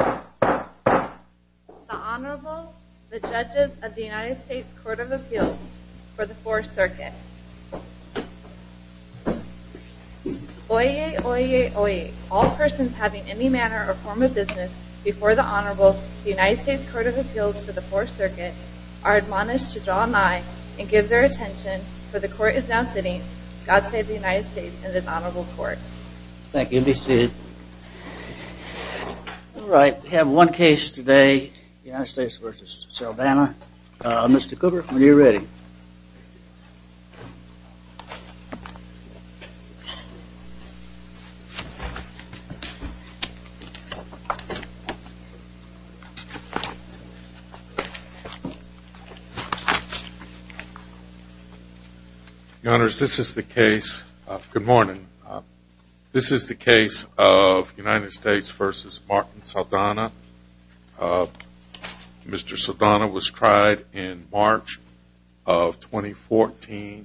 The Honorable, the Judges of the United States Court of Appeals for the 4th Circuit. Oyez, oyez, oyez. All persons having any manner or form of business before the Honorable, the United States Court of Appeals for the 4th Circuit, are admonished to draw nigh and give their attention, for the Court is now sitting. God save the United States and this Honorable Court. Thank you, be seated. All right, we have one case today, United States v. Saldana. Mr. Cooper, when you're ready. Good morning. This is the case of United States v. Martin Saldana. Mr. Saldana was tried in March of 2014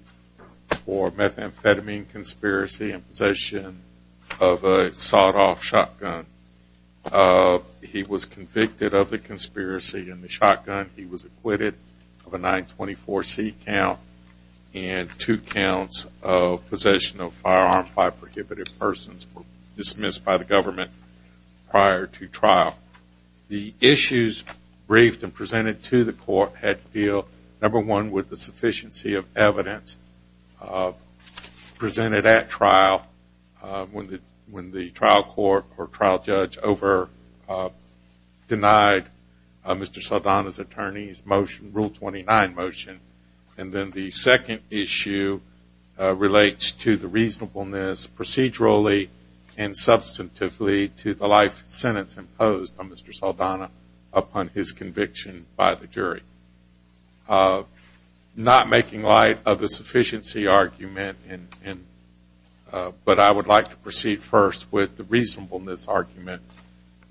for methamphetamine conspiracy. In possession of a sawed-off shotgun. He was convicted of the conspiracy in the shotgun. He was acquitted of a 924C count and two counts of possession of firearms by prohibited persons were dismissed by the government prior to trial. The issues briefed and presented to the court had to deal, number one, with the sufficiency of evidence presented at trial when the trial court or trial judge denied Mr. Saldana's attorney's rule 29 motion. And then the second issue relates to the reasonableness procedurally and substantively to the life sentence imposed on Mr. Saldana upon his conviction by the jury. Not making light of the sufficiency argument, but I would like to proceed first with the reasonableness argument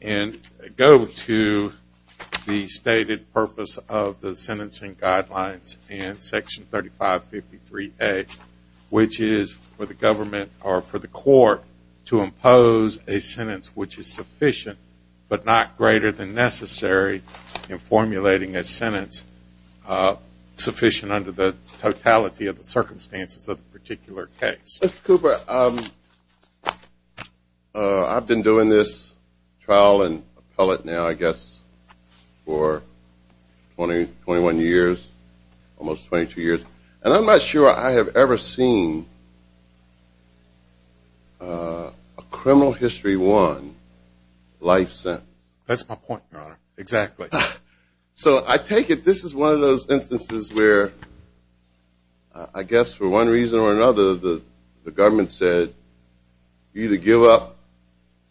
and go to the stated purpose of the sentencing guidelines in section 3553A, which is for the government or for the court to impose a sentence which is sufficient but not greater than necessary in formulating a sentence sufficient under the totality of the circumstances of the particular case. Mr. Cooper, I've been doing this trial and appellate now, I guess, for 21 years, almost 22 years, and I'm not sure I have ever seen a criminal history one life sentence. That's my point, Your Honor. Exactly. So I take it this is one of those instances where, I guess, for one reason or another, the government said, you either give up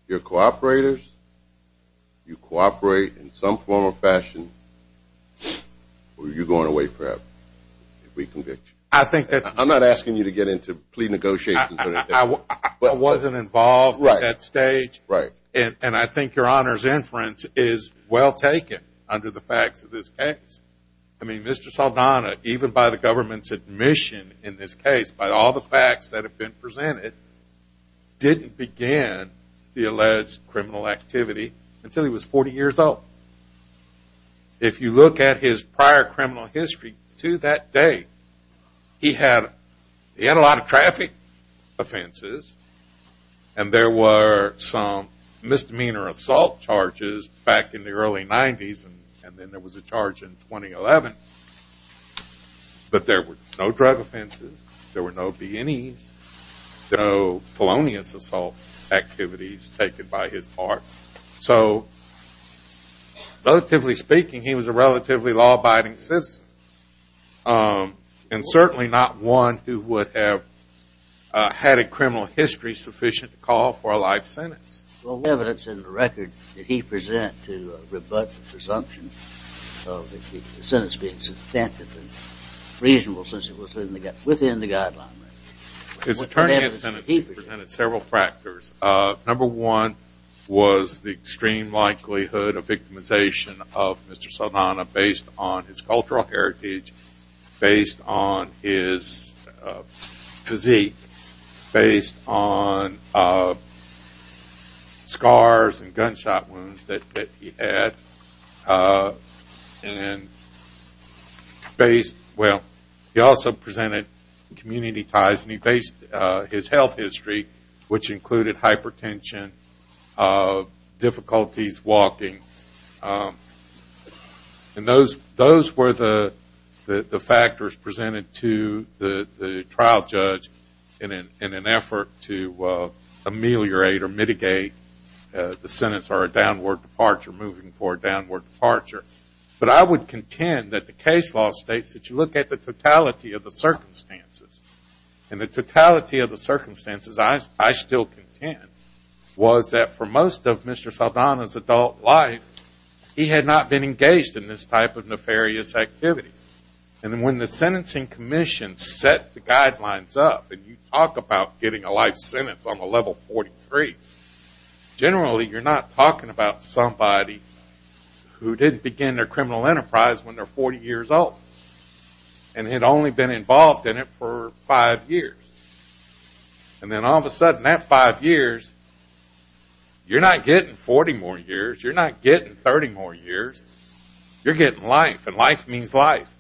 your cooperators, you cooperate in some form or fashion, or you're going away forever if we convict you. I'm not asking you to get into plea negotiations. I wasn't involved at that stage, and I think Your Honor's inference is well taken under the facts of this case. I mean, Mr. Saldana, even by the government's admission in this case, by all the facts that have been presented, didn't begin the alleged criminal activity until he was 40 years old. If you look at his prior criminal history to that day, he had a lot of traffic offenses, and there were some misdemeanor assault charges back in the early 90s, and then there was a charge in 2011. But there were no drug offenses, there were no BNEs, no felonious assault activities taken by his part. So, relatively speaking, he was a relatively law-abiding citizen, and certainly not one who would have had a criminal history sufficient to call for a life sentence. Well, what evidence in the record did he present to rebut the presumption of the sentence being substantive and reasonable since it was within the guideline? He presented several factors. Number one was the extreme likelihood of victimization of Mr. Saldana based on his cultural heritage, based on his physique, based on scars and gunshot wounds that he had. He also presented community ties, and he based his health history, which included hypertension, difficulties walking. And those were the factors presented to the trial judge in an effort to ameliorate or mitigate the sentence or a downward departure, moving forward downward departure. But I would contend that the case law states that you look at the totality of the circumstances, and the totality of the circumstances I still contend was that for most of Mr. Saldana's adult life, he had not been engaged in this type of nefarious activity. And when the sentencing commission set the guidelines up, and you talk about getting a life sentence on the level 43, generally you're not talking about somebody who didn't begin their criminal enterprise when they're 40 years old, and had only been involved in it for five years. And then all of a sudden that five years, you're not getting 40 more years, you're not getting 30 more years, you're getting life, and life means life.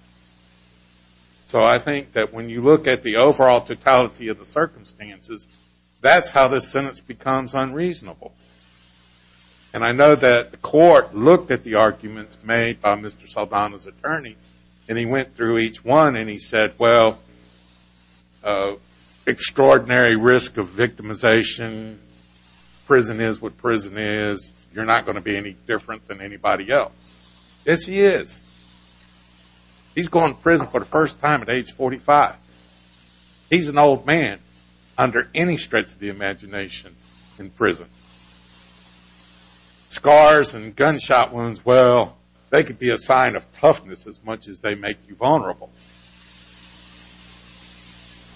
So I think that when you look at the overall totality of the circumstances, that's how this sentence becomes unreasonable. And I know that the court looked at the arguments made by Mr. Saldana's attorney, and he went through each one and he said, well, extraordinary risk of victimization, prison is what prison is, you're not going to be any different than anybody else. Yes, he is. He's going to prison for the first time at age 45. He's an old man under any stretch of the imagination in prison. Scars and gunshot wounds, well, they could be a sign of toughness as much as they make you vulnerable.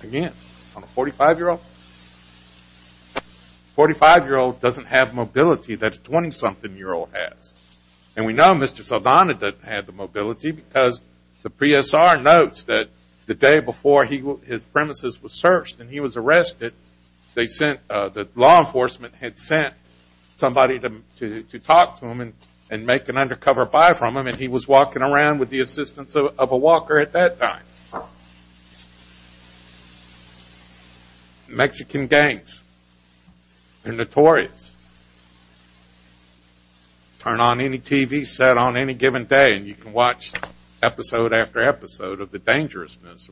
Again, on a 45-year-old? A 45-year-old doesn't have mobility that a 20-something-year-old has. And we know Mr. Saldana doesn't have the mobility because the PSR notes that the day before his premises were searched and he was arrested, the law enforcement had sent somebody to talk to him and make an undercover buy from him, and he was walking around with the assistance of a walker at that time. Turn on any TV set on any given day and you can watch episode after episode of the dangerousness.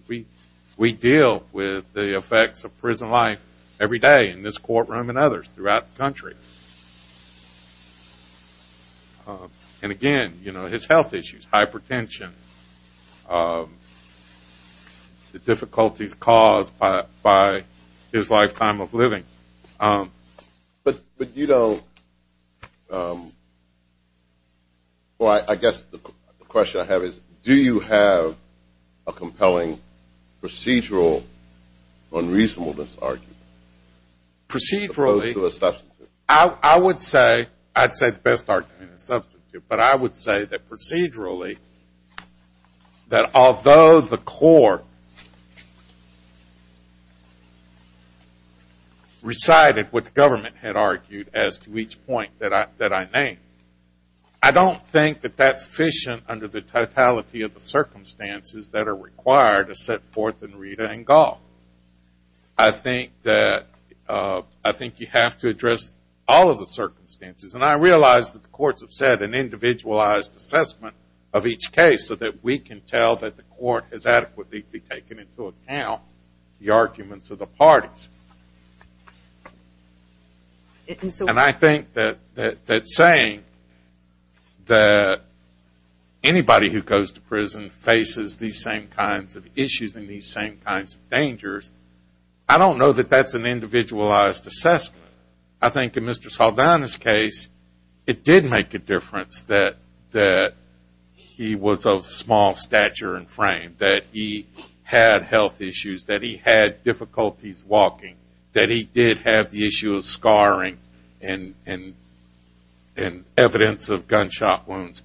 We deal with the effects of prison life every day in this courtroom and others throughout the country. And again, you know, his health issues, hypertension, the difficulties caused by his lifetime of living. But you don't, well, I guess the question I have is do you have a compelling procedural unreasonableness argument? Procedurally, I would say, I'd say the best argument is substitute, but I would say that procedurally, that although the court recited what the government had argued as to each point that I named, I don't think that that's sufficient under the totality of the circumstances that are required to set forth in Rita and Golf. I think that you have to address all of the circumstances, and I realize that the courts have set an individualized assessment of each case so that we can tell that the court has adequately taken into account the arguments of the parties. And I think that saying that anybody who goes to prison faces these same kinds of issues and these same kinds of dangers, I don't know that that's an individualized assessment. I think in Mr. Saldana's case, it did make a difference that he was of small stature and frame, that he had health issues, that he had difficulties walking, that he did have the issue of scarring and evidence of gunshot wounds.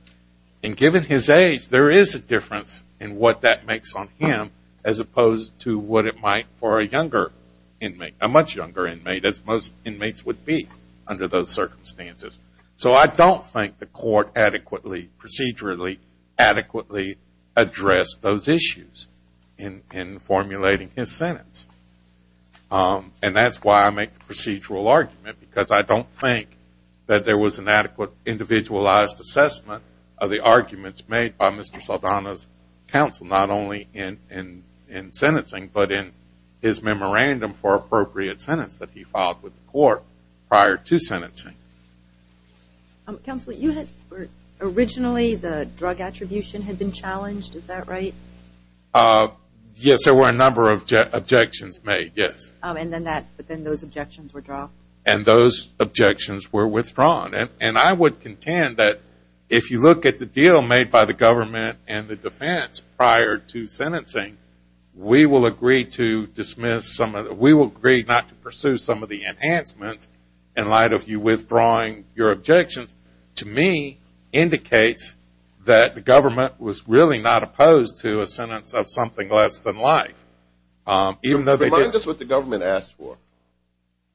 And given his age, there is a difference in what that makes on him as opposed to what it might for a younger inmate, a much younger inmate as most inmates would be under those circumstances. So I don't think the court adequately, procedurally, adequately addressed those issues in formulating his sentence. And that's why I make the procedural argument, because I don't think that there was an adequate individualized assessment of the arguments made by Mr. Saldana's counsel, not only in sentencing, but in his memorandum for appropriate sentence that he filed with the court prior to sentencing. Counsel, you had originally, the drug attribution had been challenged, is that right? Yes, there were a number of objections made, yes. And then those objections were dropped? And those objections were withdrawn. And I would contend that if you look at the deal made by the government and the defense prior to sentencing, we will agree not to pursue some of the enhancements in light of you withdrawing your objections, to me indicates that the government was really not opposed to a sentence of something less than life. Remind us what the government asked for.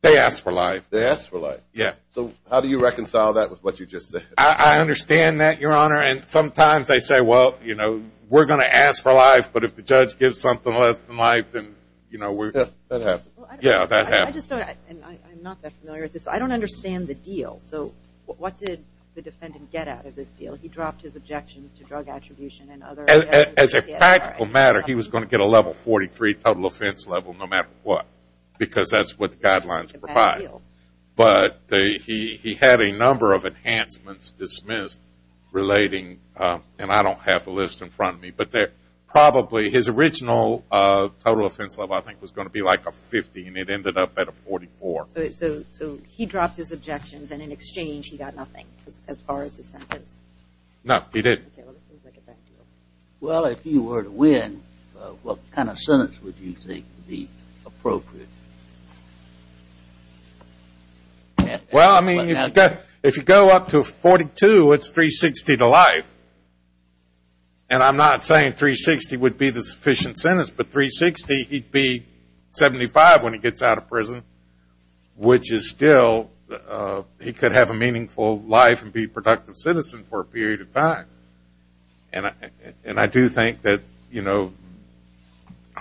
They asked for life. They asked for life. Yes. So how do you reconcile that with what you just said? I understand that, Your Honor. And sometimes they say, well, you know, we're going to ask for life, but if the judge gives something less than life, then, you know, we're going to. That happens. Yeah, that happens. I'm not that familiar with this. I don't understand the deal. So what did the defendant get out of this deal? He dropped his objections to drug attribution and other. As a practical matter, he was going to get a level 43 total offense level no matter what, because that's what the guidelines provide. But he had a number of enhancements dismissed relating, and I don't have the list in front of me, but probably his original total offense level I think was going to be like a 50, and it ended up at a 44. So he dropped his objections, and in exchange he got nothing as far as his sentence? No, he didn't. Well, if you were to win, what kind of sentence would you think would be appropriate? Well, I mean, if you go up to a 42, it's 360 to life. And I'm not saying 360 would be the sufficient sentence, but 360, he'd be 75 when he gets out of prison, which is still, he could have a meaningful life and be a productive citizen for a period of time. And I do think that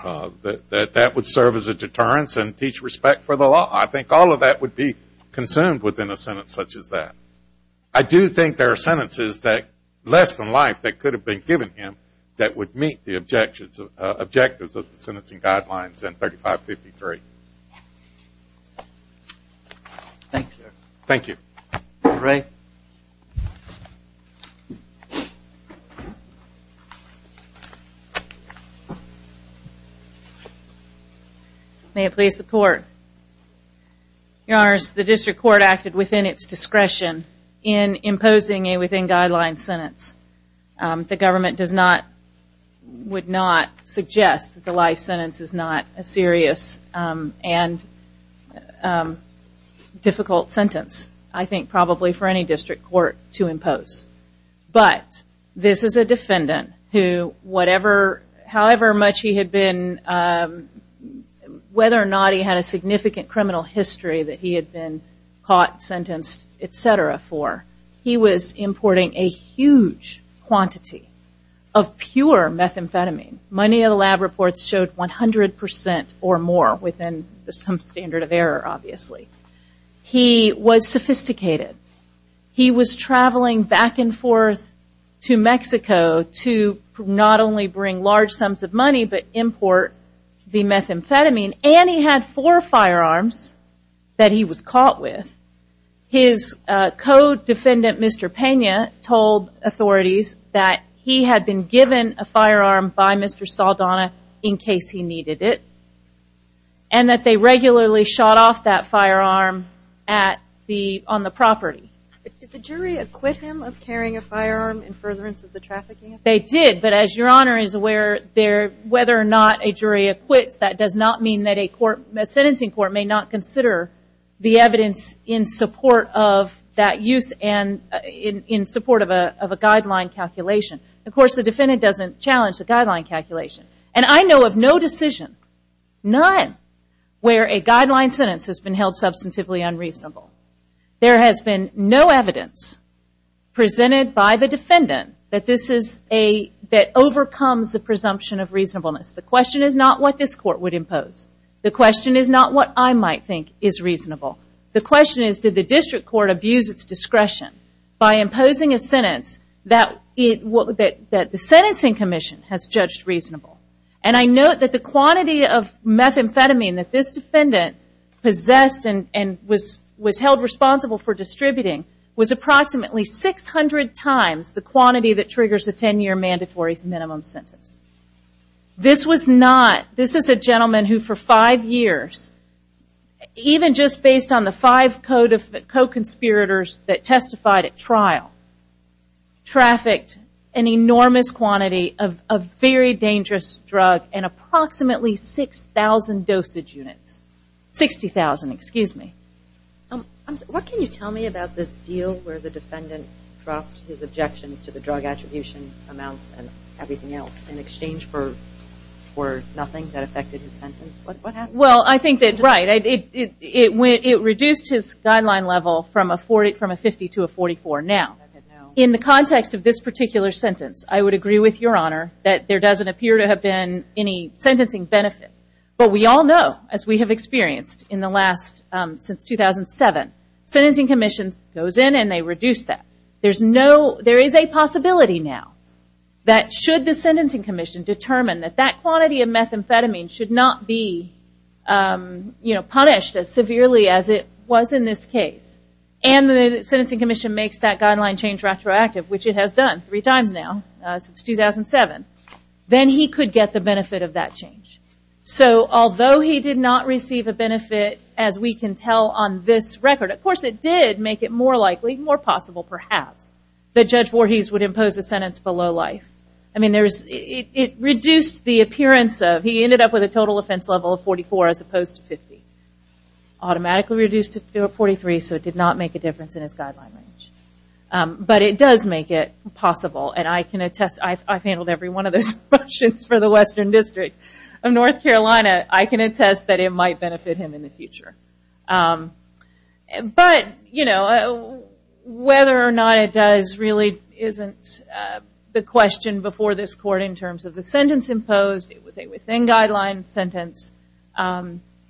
that would serve as a deterrence and teach respect for the law. I think all of that would be consumed within a sentence such as that. I do think there are sentences that, less than life, that could have been given him that would meet the objectives of the sentencing guidelines in 3553. Thank you. Thank you. Mr. Ray? May it please the Court. Your Honors, the district court acted within its discretion in imposing a within-guidelines sentence. The government does not, would not suggest that the life sentence is not a serious and difficult sentence, I think probably for any district court to impose. But this is a defendant who, whatever, however much he had been, whether or not he had a significant criminal history that he had been caught, sentenced, et cetera for, he was importing a huge quantity of pure methamphetamine. Money in the lab reports showed 100% or more within some standard of error, obviously. He was sophisticated. He was traveling back and forth to Mexico to not only bring large sums of money, but import the methamphetamine. And he had four firearms that he was caught with. His co-defendant, Mr. Pena, told authorities that he had been given a firearm by Mr. Saldana in case he needed it and that they regularly shot off that firearm on the property. Did the jury acquit him of carrying a firearm in furtherance of the trafficking? They did. But as Your Honor is aware, whether or not a jury acquits, that does not mean that a sentencing court may not consider the evidence in support of that use and in support of a guideline calculation. Of course, the defendant doesn't challenge the guideline calculation. And I know of no decision, none, where a guideline sentence has been held substantively unreasonable. There has been no evidence presented by the defendant that this is a, that overcomes the presumption of reasonableness. The question is not what this court would impose. The question is not what I might think is reasonable. The question is did the district court abuse its discretion by imposing a sentence that the sentencing commission has judged reasonable. And I note that the quantity of methamphetamine that this defendant possessed and was held responsible for distributing was approximately 600 times the quantity that triggers a 10-year mandatory minimum sentence. This was not, this is a gentleman who for five years, even just based on the five co-conspirators that testified at trial, trafficked an enormous quantity of a very dangerous drug in approximately 6,000 dosage units. 60,000, excuse me. What can you tell me about this deal where the defendant dropped his objections to the drug attribution amounts and everything else in exchange for nothing that affected his sentence? What happened? Well, I think that, right, it reduced his guideline level from a 50 to a 44. Now, in the context of this particular sentence, I would agree with Your Honor that there doesn't appear to have been any sentencing benefit. But we all know, as we have experienced in the last, since 2007, sentencing commissions goes in and they reduce that. There is a possibility now that should the sentencing commission determine that that quantity of methamphetamine should not be punished as severely as it was in this case, and the sentencing commission makes that guideline change retroactive, which it has done three times now since 2007, then he could get the benefit of that change. So although he did not receive a benefit, as we can tell on this record, of course it did make it more likely, more possible perhaps, that Judge Voorhees would impose a sentence below life. I mean, it reduced the appearance of, he ended up with a total offense level of 44 as opposed to 50. Automatically reduced it to 43, so it did not make a difference in his guideline range. But it does make it possible, and I can attest, I've handled every one of those motions for the Western District of North Carolina. I can attest that it might benefit him in the future. But, you know, whether or not it does really isn't the question before this court in terms of the sentence imposed. It was a within guideline sentence.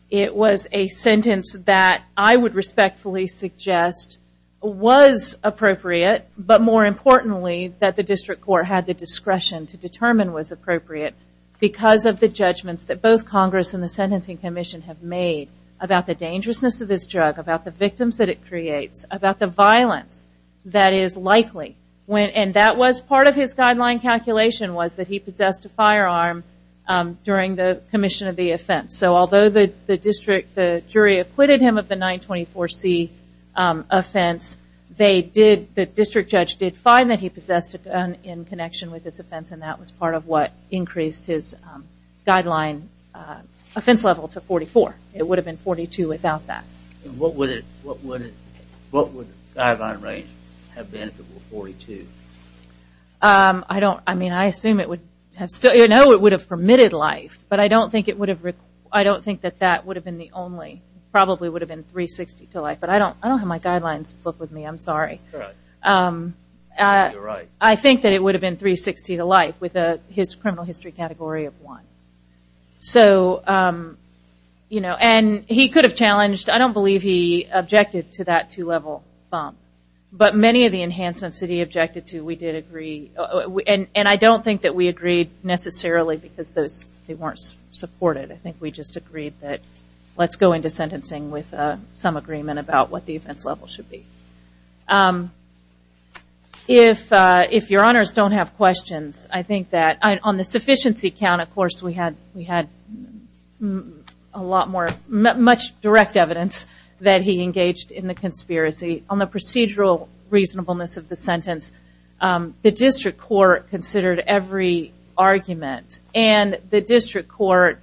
It was a sentence that I would respectfully suggest was appropriate, but more importantly that the district court had the discretion to determine was appropriate because of the judgments that both Congress and the sentencing commission have made about the dangerousness of this drug, about the victims that it creates, about the violence that is likely, and that was part of his guideline calculation was that he possessed a firearm during the commission of the offense. So although the district, the jury acquitted him of the 924C offense, the district judge did find that he possessed a gun in connection with this offense, and that was part of what increased his guideline offense level to 44. It would have been 42 without that. What would the guideline range have been if it were 42? I don't, I mean, I assume it would have still, you know, it would have permitted life, but I don't think it would have, I don't think that that would have been the only, probably would have been 360 to life, but I don't have my guidelines book with me. I'm sorry. You're right. I think that it would have been 360 to life with his criminal history category of one. So, you know, and he could have challenged, I don't believe he objected to that two-level bump, but many of the enhancements that he objected to we did agree, and I don't think that we agreed necessarily because those, they weren't supported. I think we just agreed that let's go into sentencing with some agreement about what the offense level should be. If your honors don't have questions, I think that on the sufficiency count, of course, we had a lot more, much direct evidence that he engaged in the conspiracy. On the procedural reasonableness of the sentence, the district court considered every argument, and the district court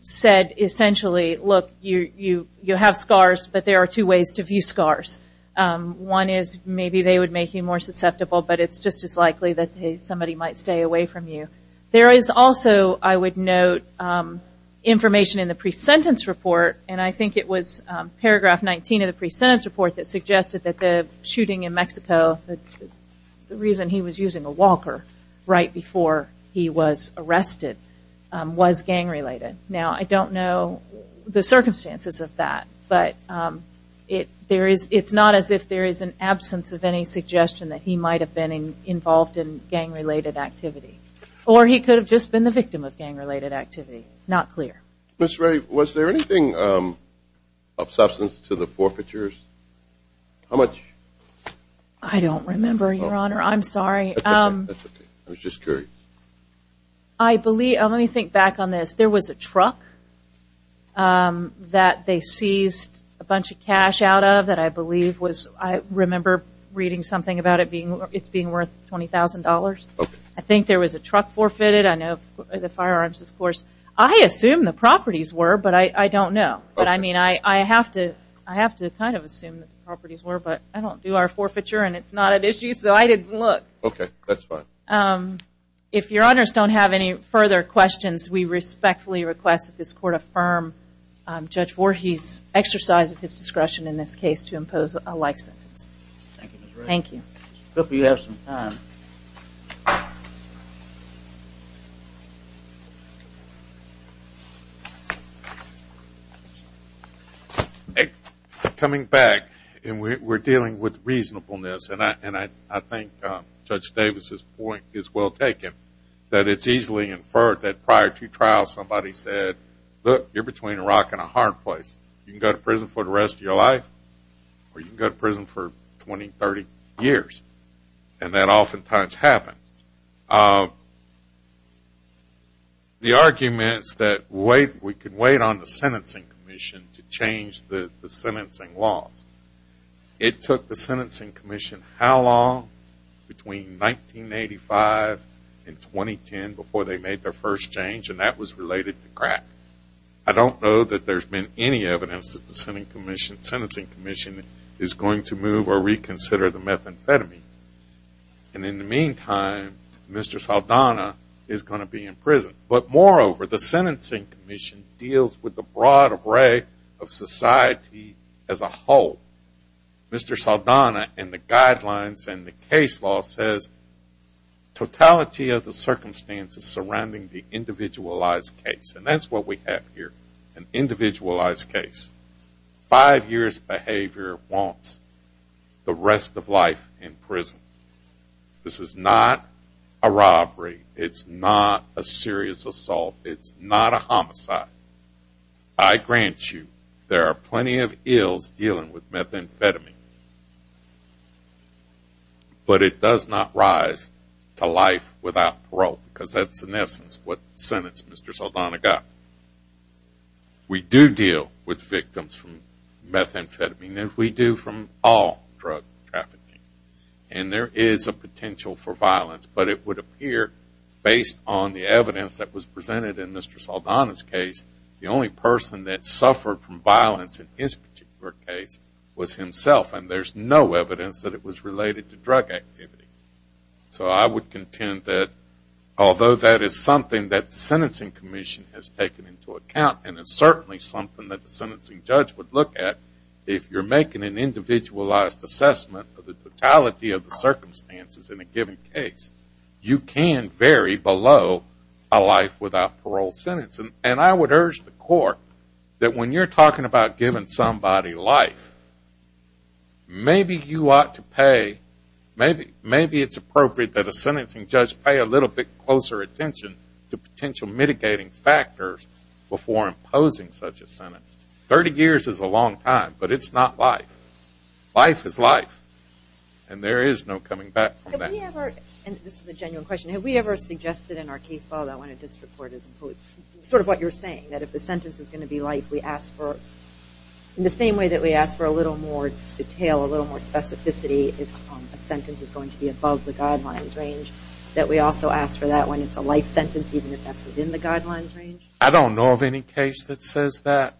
said essentially, look, you have scars, but there are two ways to view scars. One is maybe they would make you more susceptible, but it's just as likely that somebody might stay away from you. There is also, I would note, information in the pre-sentence report, and I think it was paragraph 19 of the pre-sentence report that suggested that the shooting in Mexico, the reason he was using a walker right before he was arrested was gang-related. Now, I don't know the circumstances of that, but it's not as if there is an absence of any suggestion that he might have been involved in gang-related activity, or he could have just been the victim of gang-related activity. Not clear. Ms. Ray, was there anything of substance to the forfeitures? How much? I don't remember, Your Honor. I'm sorry. That's okay. I was just curious. Let me think back on this. There was a truck that they seized a bunch of cash out of that I believe was, I remember reading something about it being worth $20,000. Okay. I think there was a truck forfeited. I know the firearms, of course. I assume the properties were, but I don't know. But, I mean, I have to kind of assume that the properties were, but I don't do our forfeiture, and it's not an issue, so I didn't look. Okay. That's fine. If Your Honors don't have any further questions, we respectfully request that this Court affirm Judge Voorhees' exercise of his discretion in this case to impose a life sentence. Thank you, Ms. Ray. Thank you. I hope you have some time. Coming back, and we're dealing with reasonableness, and I think Judge Davis' point is well taken, that it's easily inferred that prior to trial somebody said, look, you're between a rock and a hard place. You can go to prison for the rest of your life, or you can go to prison for 20, 30 years, and that oftentimes happens. The argument is that we can wait on the Sentencing Commission to change the sentencing laws. It took the Sentencing Commission how long? Between 1985 and 2010 before they made their first change, and that was related to crack. I don't know that there's been any evidence that the Sentencing Commission is going to move or reconsider the methamphetamine. And in the meantime, Mr. Saldana is going to be in prison. But moreover, the Sentencing Commission deals with the broad array of society as a whole. Mr. Saldana, in the guidelines and the case law, says totality of the circumstances surrounding the individualized case, and that's what we have here, an individualized case. Five years of behavior wants the rest of life in prison. This is not a robbery. It's not a serious assault. It's not a homicide. I grant you there are plenty of ills dealing with methamphetamine, but it does not rise to life without parole because that's, in essence, what the sentence Mr. Saldana got. We do deal with victims from methamphetamine, and we do from all drug trafficking. And there is a potential for violence, but it would appear based on the evidence that was presented in Mr. Saldana's case, the only person that suffered from violence in his particular case was himself, and there's no evidence that it was related to drug activity. So I would contend that although that is something that the Sentencing Commission has taken into account, and it's certainly something that the sentencing judge would look at, if you're making an individualized assessment of the totality of the circumstances in a given case, you can vary below a life without parole sentence. And I would urge the court that when you're talking about giving somebody life, maybe you ought to pay, maybe it's appropriate that a sentencing judge pay a little bit closer attention to potential mitigating factors before imposing such a sentence. Thirty years is a long time, but it's not life. Life is life, and there is no coming back from that. And this is a genuine question. Have we ever suggested in our case law that when a district court is imposed, sort of what you're saying, that if the sentence is going to be life, we ask for, in the same way that we ask for a little more detail, a little more specificity if a sentence is going to be above the guidelines range, that we also ask for that when it's a life sentence, even if that's within the guidelines range? I don't know of any case that says that.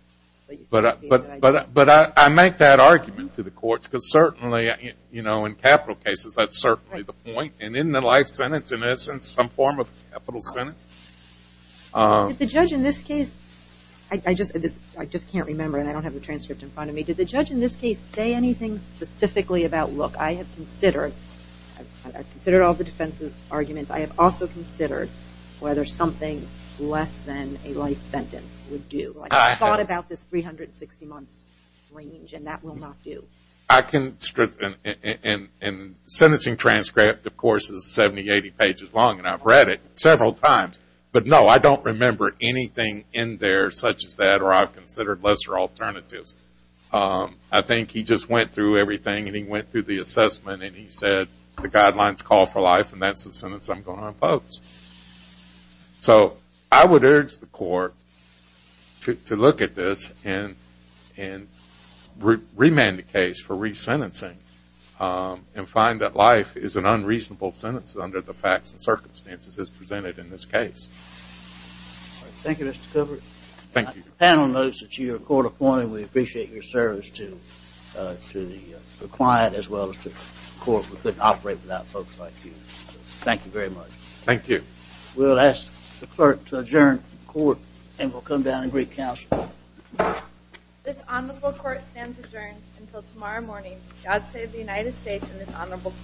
But I make that argument to the courts, because certainly in capital cases that's certainly the point. And in the life sentence, in essence, some form of capital sentence. Did the judge in this case – I just can't remember, and I don't have the transcript in front of me. Did the judge in this case say anything specifically about, look, I have considered all the defense's arguments. I have also considered whether something less than a life sentence would do. I thought about this 360-month range, and that will not do. I can – and the sentencing transcript, of course, is 70, 80 pages long, and I've read it several times. But, no, I don't remember anything in there such as that, or I've considered lesser alternatives. I think he just went through everything, and he went through the assessment, and he said the guidelines call for life, and that's the sentence I'm going to impose. So I would urge the court to look at this and remand the case for resentencing and find that life is an unreasonable sentence under the facts and circumstances as presented in this case. Thank you, Mr. Gilbert. Thank you. The panel notes that you are court appointed. We appreciate your service to the client as well as to the court. We couldn't operate without folks like you. Thank you very much. Thank you. We'll ask the clerk to adjourn the court, and we'll come down and greet counsel. This honorable court stands adjourned until tomorrow morning. God save the United States and this honorable court.